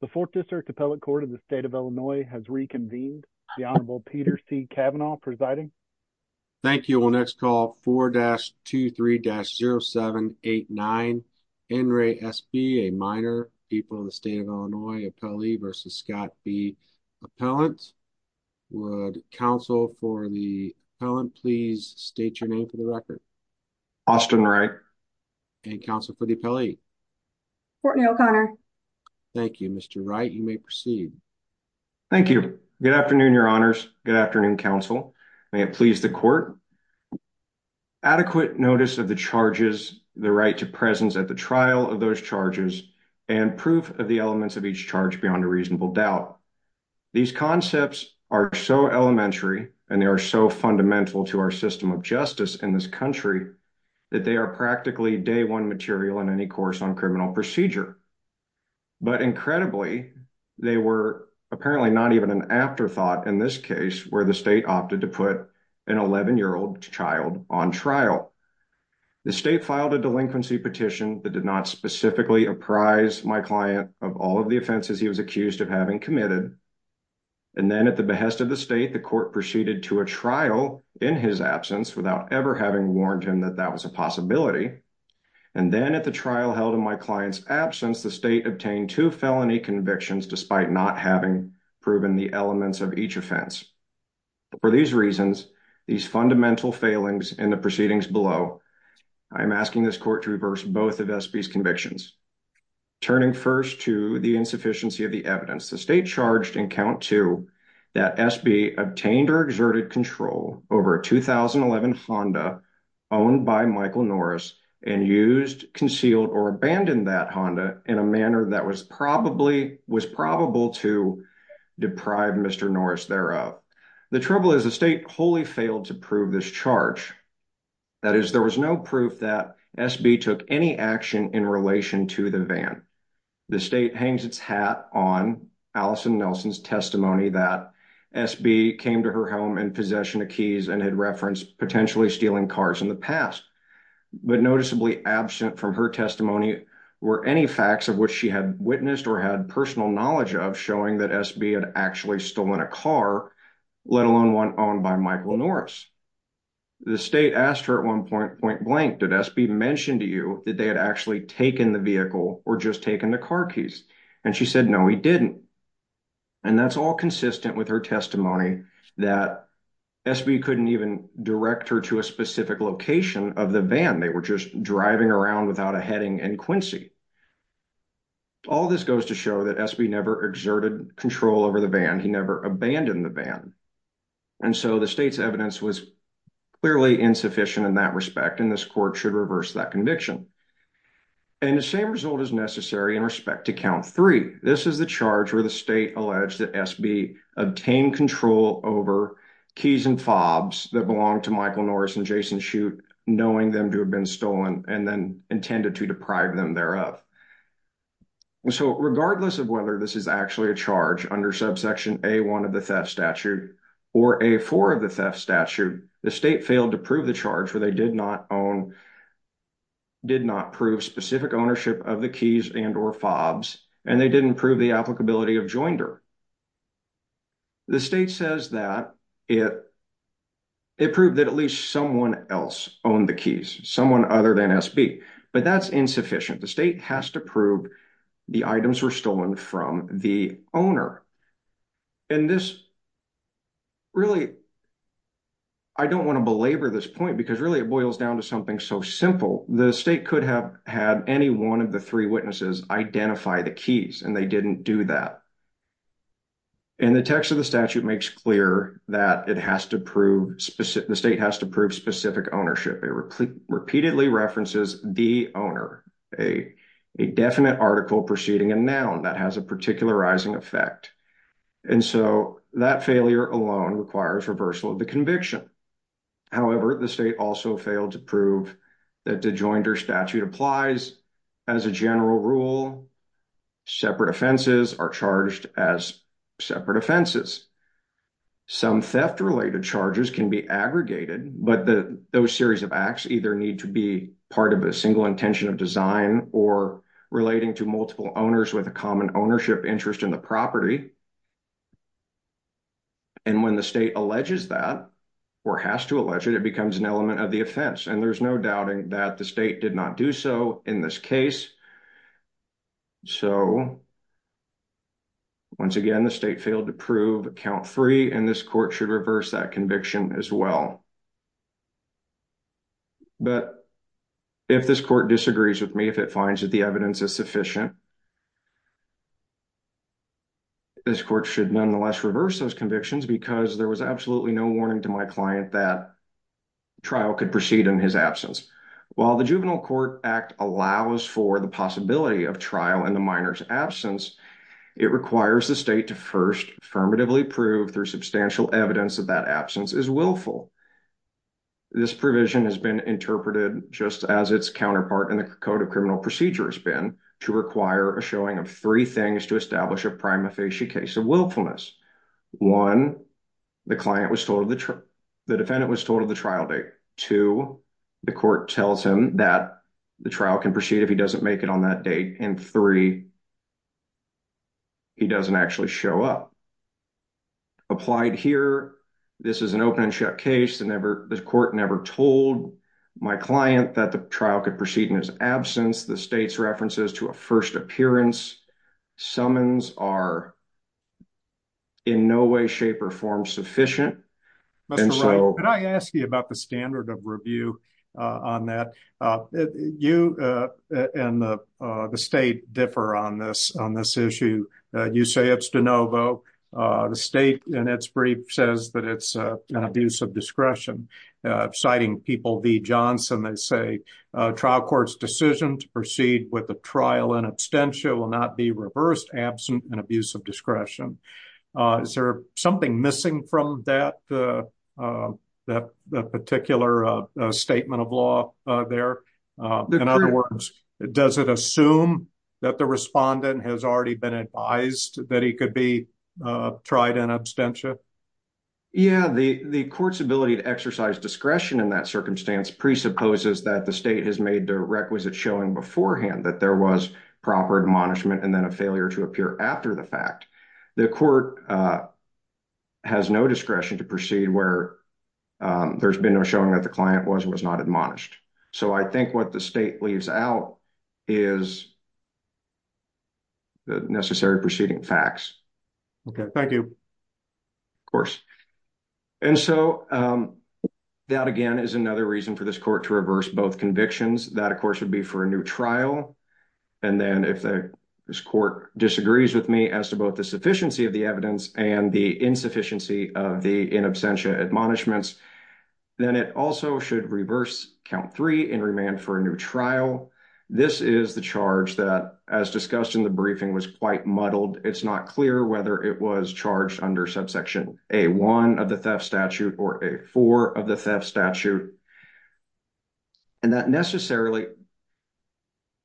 The 4th District Appellate Court of the State of Illinois has reconvened. The Honorable Peter C. Kavanaugh presiding. Thank you. We'll next call 4-23-0789. N. Ray S.B., a minor, people of the State of Illinois, appellee versus Scott B. Appellant. Would counsel for the appellant please state your name for the record? Austin Wright. And counsel for the appellee? Courtney O'Connor. Thank you. Mr. Wright, you may proceed. Thank you. Good afternoon, your honors. Good afternoon, counsel. May it please the court. Adequate notice of the charges, the right to presence at the trial of those charges, and proof of the elements of each charge beyond a reasonable doubt. These concepts are so elementary and they are so fundamental to our system of justice in this country that they are practically day one material in any course on criminal procedure. But incredibly, they were apparently not even an afterthought in this case where the state opted to put an 11-year-old child on trial. The state filed a delinquency petition that did not specifically apprise my client of all of the offenses he was accused of having committed. And then at the behest of the state, the court proceeded to a trial in his absence without ever warning him that that was a possibility. And then at the trial held in my client's absence, the state obtained two felony convictions despite not having proven the elements of each offense. For these reasons, these fundamental failings in the proceedings below, I am asking this court to reverse both of SB's convictions. Turning first to the insufficiency of the evidence, the state charged in count two that SB obtained or exerted control over a 2011 Honda owned by Michael Norris and used, concealed, or abandoned that Honda in a manner that was probably was probable to deprive Mr. Norris thereof. The trouble is the state wholly failed to prove this charge. That is, there was no proof that SB took any action in relation to the van. The state hangs its hat on Allison Nelson's SB came to her home in possession of keys and had referenced potentially stealing cars in the past, but noticeably absent from her testimony were any facts of which she had witnessed or had personal knowledge of showing that SB had actually stolen a car, let alone one owned by Michael Norris. The state asked her at one point, point blank, did SB mentioned to you that they had actually taken the vehicle or just taken the car keys? And she said, no, he didn't. And that's all consistent with her testimony that SB couldn't even direct her to a specific location of the van. They were just driving around without a heading and Quincy. All this goes to show that SB never exerted control over the van. He never abandoned the van. And so the state's evidence was clearly insufficient in that respect, and this court should reverse that conviction. And the same result is necessary in respect to count three. This is the charge where the state alleged that SB obtained control over keys and fobs that belonged to Michael Norris and Jason shoot, knowing them to have been stolen and then intended to deprive them thereof. So regardless of whether this is actually a charge under subsection a one of the theft statute or a four of the theft statute, the state failed to prove the charge where did not own, did not prove specific ownership of the keys and or fobs, and they didn't prove the applicability of joinder. The state says that it, it proved that at least someone else owned the keys, someone other than SB, but that's insufficient. The state has to prove the items were stolen from the owner. And this really, I don't want to belabor this point because really it boils down to something so simple. The state could have had any one of the three witnesses identify the keys and they didn't do that. And the text of the statute makes clear that it has to prove specific, the state has to prove specific ownership. It repeatedly references the owner, a definite article preceding a noun that has a particularizing effect. And so that failure alone requires reversal of the conviction. However, the state also failed to prove that the joinder statute applies as a general rule. Separate offenses are charged as separate offenses. Some theft related charges can be aggregated, but those series of acts either need to be part of a single intention of design or relating to the state. And when the state alleges that or has to allege it, it becomes an element of the offense. And there's no doubting that the state did not do so in this case. So once again, the state failed to prove count three and this court should reverse that conviction as well. But if this court disagrees with me, if it finds that the evidence is sufficient, this court should nonetheless reverse those convictions because there was absolutely no warning to my client that trial could proceed in his absence. While the juvenile court act allows for the possibility of trial in the minor's absence, it requires the state to first affirmatively prove their substantial evidence of that absence is willful. This provision has been interpreted just as its counterpart in the code of criminal procedure has been to require a showing of three cases of willfulness. One, the defendant was told of the trial date. Two, the court tells him that the trial can proceed if he doesn't make it on that date. And three, he doesn't actually show up. Applied here, this is an open and shut case. The court never told my client that the trial could proceed in his absence. The state's references to a first appearance summons are in no way, shape, or form sufficient. Mr. Wright, could I ask you about the standard of review on that? You and the state differ on this issue. You say it's de novo. The state in its brief says that it's an abuse of discretion. Citing people V. Johnson, they say trial court's decision to proceed with the trial in absentia will not be reversed absent an abuse of discretion. Is there something missing from that particular statement of law there? In other words, does it assume that the respondent has already been advised that he could be tried in absentia? Yeah, the court's ability to exercise discretion in that circumstance presupposes that the state has made the requisite showing beforehand that there was proper admonishment and then a failure to appear after the fact. The court has no discretion to proceed where there's been no showing that the client was or was not admonished. So I think what the state leaves out is the necessary proceeding facts. Okay, thank you. Of course. And so that again is another reason for this court to reverse both convictions. That of course would be for a new trial. And then if this court disagrees with me as to both the sufficiency of the evidence and the insufficiency of the in absentia admonishments, then it also should reverse count three in remand for a new trial. This is the charge that as discussed in the briefing was quite muddled. It's not clear whether it was charged under subsection A1 of the theft statute or A4 of the theft statute. And that necessarily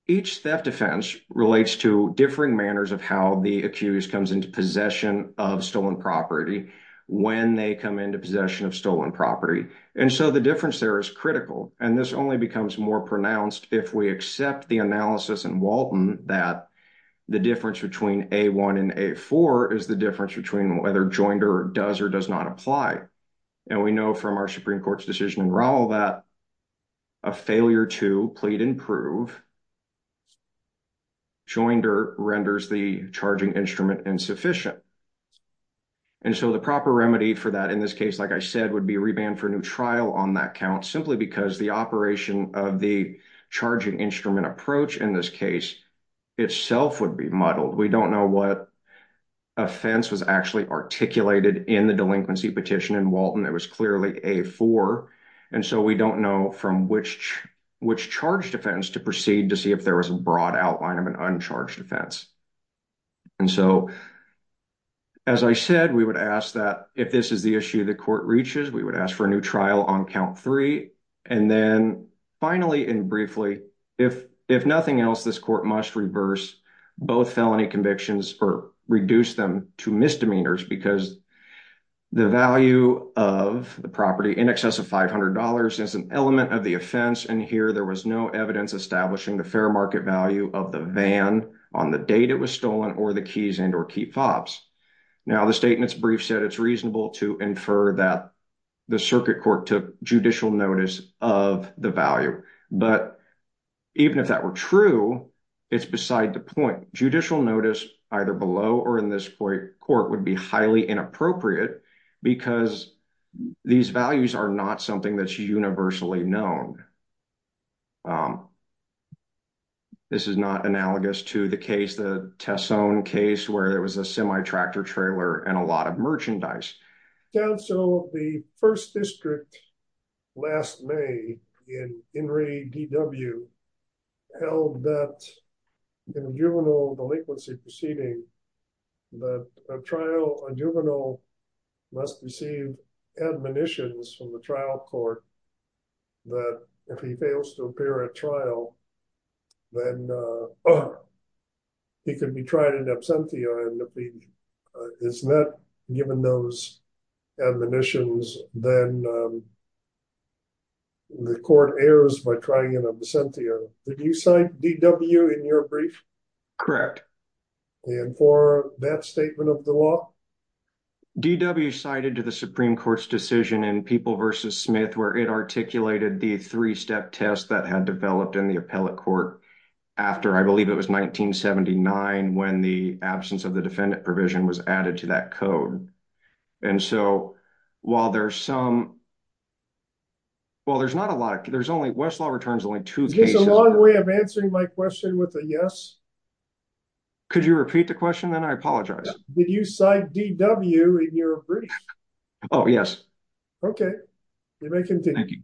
each theft offense relates to differing manners of how the accused comes into possession of stolen property when they come into possession of stolen property. And so the difference there is critical. And this only becomes more the difference between A1 and A4 is the difference between whether Joinder does or does not apply. And we know from our Supreme Court's decision in Raul that a failure to plead and prove Joinder renders the charging instrument insufficient. And so the proper remedy for that in this case, like I said, would be a remand for a new trial on that count simply because the operation of the charging instrument approach in this case itself would be muddled. We don't know what offense was actually articulated in the delinquency petition in Walton. It was clearly A4. And so we don't know from which charge defense to proceed to see if there was a broad outline of an uncharged offense. And so as I said, we would ask that if this is the issue the court reaches, we would ask for a new trial on count three. And then finally and briefly, if nothing else, this court must reverse both felony convictions or reduce them to misdemeanors because the value of the property in excess of $500 is an element of the offense. And here there was no evidence establishing the fair market value of the van on the date it was stolen or the keys and or key fobs. Now the statement's brief said it's reasonable to infer that the circuit court took judicial notice of the value. But even if that were true, it's beside the point. Judicial notice either below or in this court would be highly inappropriate because these values are not something that's universally known. This is not analogous to the case, the Tessone case where there was a semi-tractor trailer and a lot of merchandise. Counsel, the first district last May in Henry D.W. held that in a juvenile delinquency proceeding, that a juvenile must receive admonitions from the trial court that if he fails to appear at trial, then he could be tried in absentia. And if he is not given those admonitions, then the court errs by trying in absentia. Did you cite D.W. in your brief? Correct. And for that statement of the law? D.W. cited to the Supreme Court's People v. Smith where it articulated the three-step test that had developed in the appellate court after I believe it was 1979 when the absence of the defendant provision was added to that code. And so while there's some, well there's not a lot, there's only Westlaw returns only two cases. Is this a long way of answering my question with a yes? Could you repeat the question then? I apologize. Did you cite D.W. in your brief? Oh yes. Okay, you may continue.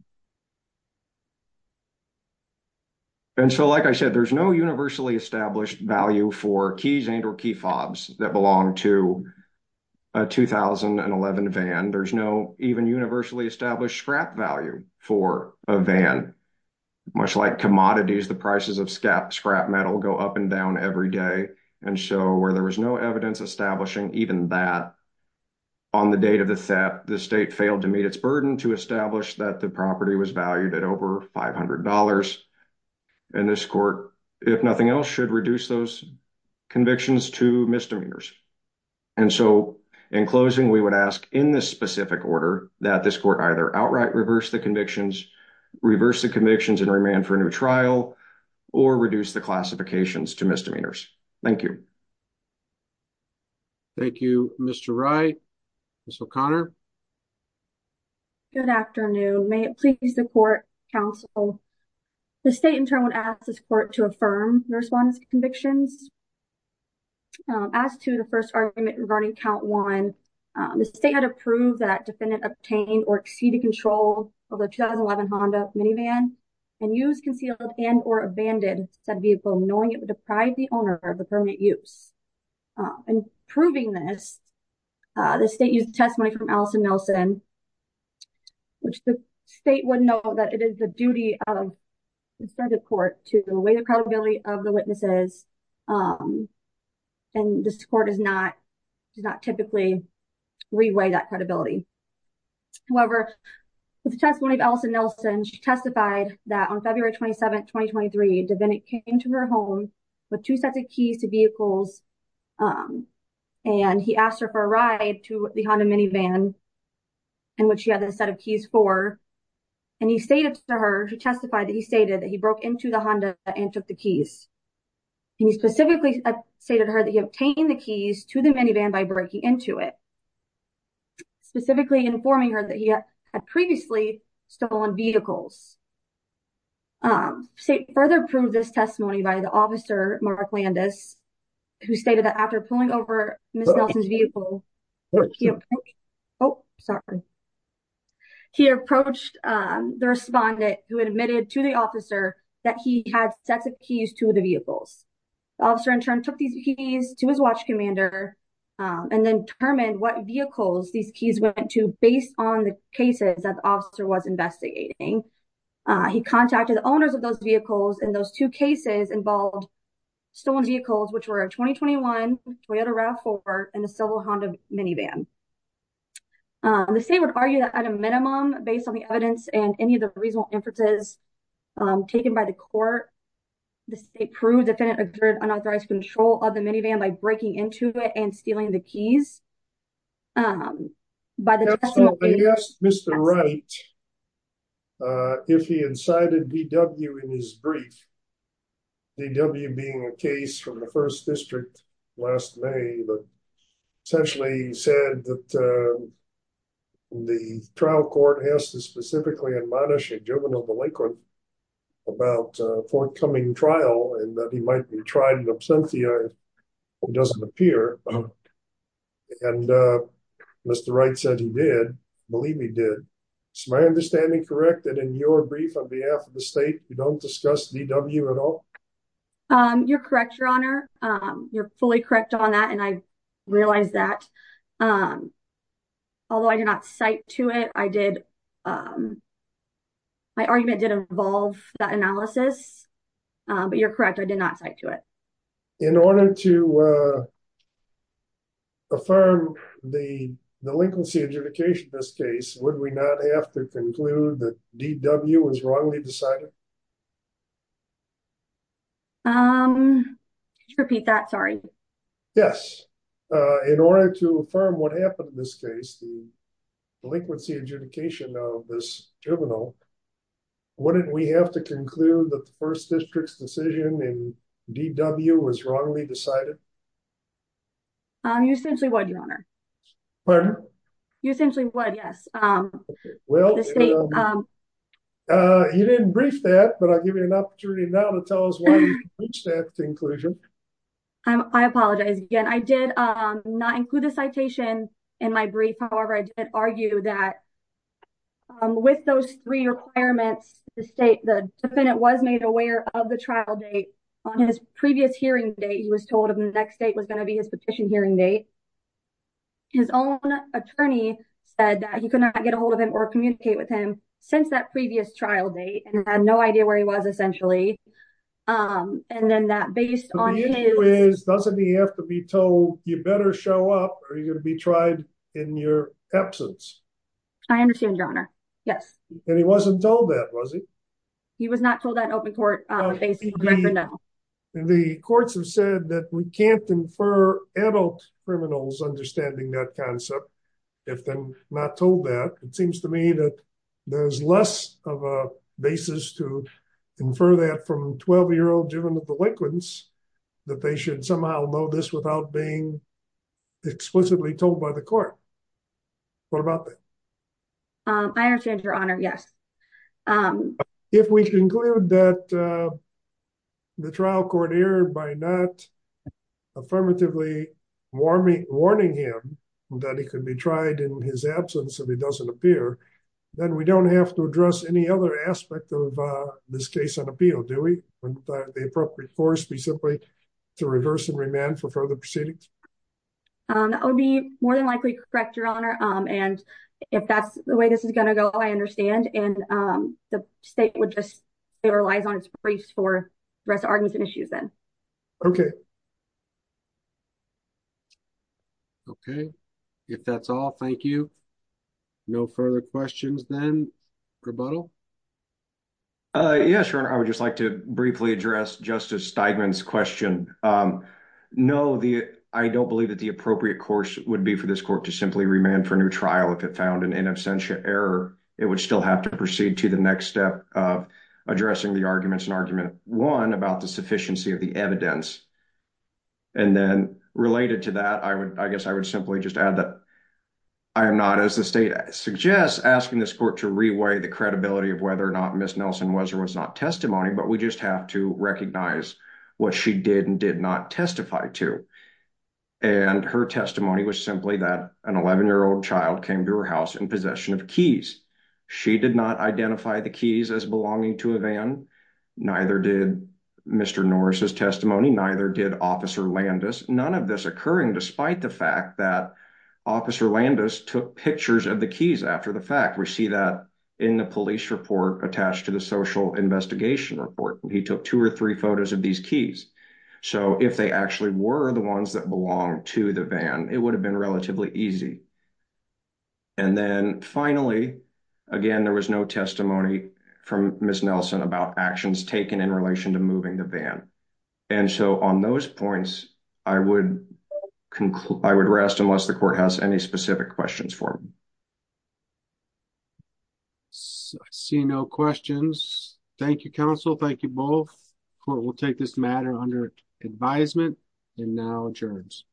And so like I said, there's no universally established value for keys and or key fobs that belong to a 2011 van. There's no even universally established scrap value for a van. Much like commodities, the prices of scrap metal go up and down every day. And so where there was evidence establishing even that on the date of the theft, the state failed to meet its burden to establish that the property was valued at over $500. And this court, if nothing else, should reduce those convictions to misdemeanors. And so in closing we would ask in this specific order that this court either outright reverse the convictions, reverse the convictions and remand for a new trial, or reduce the classifications to misdemeanors. Thank you. Thank you, Mr. Wright. Ms. O'Connor. Good afternoon. May it please the court, counsel, the state in turn would ask this court to affirm your response to convictions. As to the first argument regarding count one, the state had approved that defendant obtained or exceeded control of a 2011 Honda minivan and used concealed and or abandoned said vehicle knowing it would deprive the owner of the permanent use. In proving this, the state used testimony from Allison Nelson, which the state would know that it is the duty of the court to weigh the credibility of the witnesses. And this court does not typically reweigh that credibility. However, with the testimony of Allison Nelson, she testified that on February 27, 2023, the defendant came to her home with two sets of vehicles. And he asked her for a ride to the Honda minivan. And what she had a set of keys for. And he stated to her to testify that he stated that he broke into the Honda and took the keys. And he specifically stated to her that he obtained the keys to the minivan by breaking into it. Specifically informing her that he had previously stolen vehicles. State further proved this testimony by the officer Mark Landis, who stated that after pulling over Miss Nelson's vehicle. Oh, sorry. He approached the respondent who admitted to the officer that he had sets of keys to the vehicles. Officer in turn took these keys to his watch commander and then determined what vehicles these keys went to based on the cases that officer was investigating. He contacted the owners of those vehicles and those two cases involved stolen vehicles, which were a 2021 Toyota RAV4 and a silver Honda minivan. The state would argue that at a minimum, based on the evidence and any of the reasonable inferences taken by the court, the state proved the defendant occurred unauthorized control of the minivan by breaking into it and stealing the keys. Um, by the way, yes, Mr. Wright, uh, if he incited VW in his brief, VW being a case from the first district last May, but essentially he said that, uh, the trial court has to specifically admonish a juvenile delinquent about a forthcoming trial and that he might be tried in absentia or doesn't appear. And, uh, Mr. Wright said he did believe me, did my understanding correct that in your brief on behalf of the state, you don't discuss VW at all. Um, you're correct, your honor. Um, you're fully correct on that. And I realized that, um, although I did not cite to it, I did, um, my argument did involve that analysis, uh, but you're correct. I did not cite to it. In order to, uh, affirm the delinquency adjudication, this case, would we not have to conclude that DW was wrongly decided? Um, could you repeat that? Sorry. Yes. Uh, in order to affirm what happened in this case, delinquency adjudication of this juvenile, wouldn't we have to conclude that the first district's decision in DW was wrongly decided? Um, you essentially would, your honor. Pardon? You essentially would. Yes. Um, well, um, uh, you didn't brief that, but I'll give you an opportunity now to tell us why you reached that conclusion. Um, I apologize again. I did, um, not include the citation in my brief. However, I did argue that, um, with those three requirements, the state, the defendant was made aware of the trial date on his previous hearing date. He was told him the next date was going to be his petition hearing date. His own attorney said that he could not get ahold of him or communicate with him since that previous trial date. And he had no idea where he was essentially. Um, and then that based on his... Are you going to be tried in your absence? I understand your honor. Yes. And he wasn't told that, was he? He was not told that open court, uh, the courts have said that we can't infer adult criminals understanding that concept. If they're not told that it seems to me that there's less of a basis to infer that from 12 year old juvenile delinquents, that they should somehow know this without being explicitly told by the court. What about that? Um, I understand your honor. Yes. Um, if we conclude that, uh, the trial court here by not affirmatively warming, warning him that he could be tried in his absence and he doesn't appear, then we don't have to address any other aspect of, uh, this case on appeal, do we? The appropriate force be simply to reverse and remand for further proceedings. Um, that would be more than likely correct your honor. Um, and if that's the way this is going to go, I understand. And, um, the state would just, it relies on its briefs for rest arguments and issues then. Okay. Okay. If that's all, thank you. No further questions then. Rebuttal. Uh, yeah, sure. I would just like to briefly address justice Stigman's question. Um, no, the, I don't believe that the appropriate course would be for this court to simply remand for a new trial. If it found an in absentia error, it would still have to proceed to the next step of addressing the arguments and argument one about the sufficiency of the evidence. And then related to that, I would, I guess I would simply just add that I am not, as the state suggests, asking this court to reweigh the credibility of whether or not Ms. Nelson was or was not testimony, but we just have to recognize what she did and did not testify to. And her testimony was simply that an 11 year old child came to her house in possession of keys. She did not identify the keys as belonging to a van. Neither did Mr. Norris's testimony. Neither did officer Landis. None of this occurring despite the fact that officer Landis took pictures of the keys. After the fact we see that in the police report attached to the social investigation report, he took two or three photos of these keys. So if they actually were the ones that belong to the van, it would have been relatively easy. And then finally, again, there was no testimony from Ms. Nelson about actions taken in relation to moving the van. And so on those points, I would rest unless the court has any specific questions for me. I see no questions. Thank you, counsel. Thank you both. Court will take this matter under advisement and now adjourns.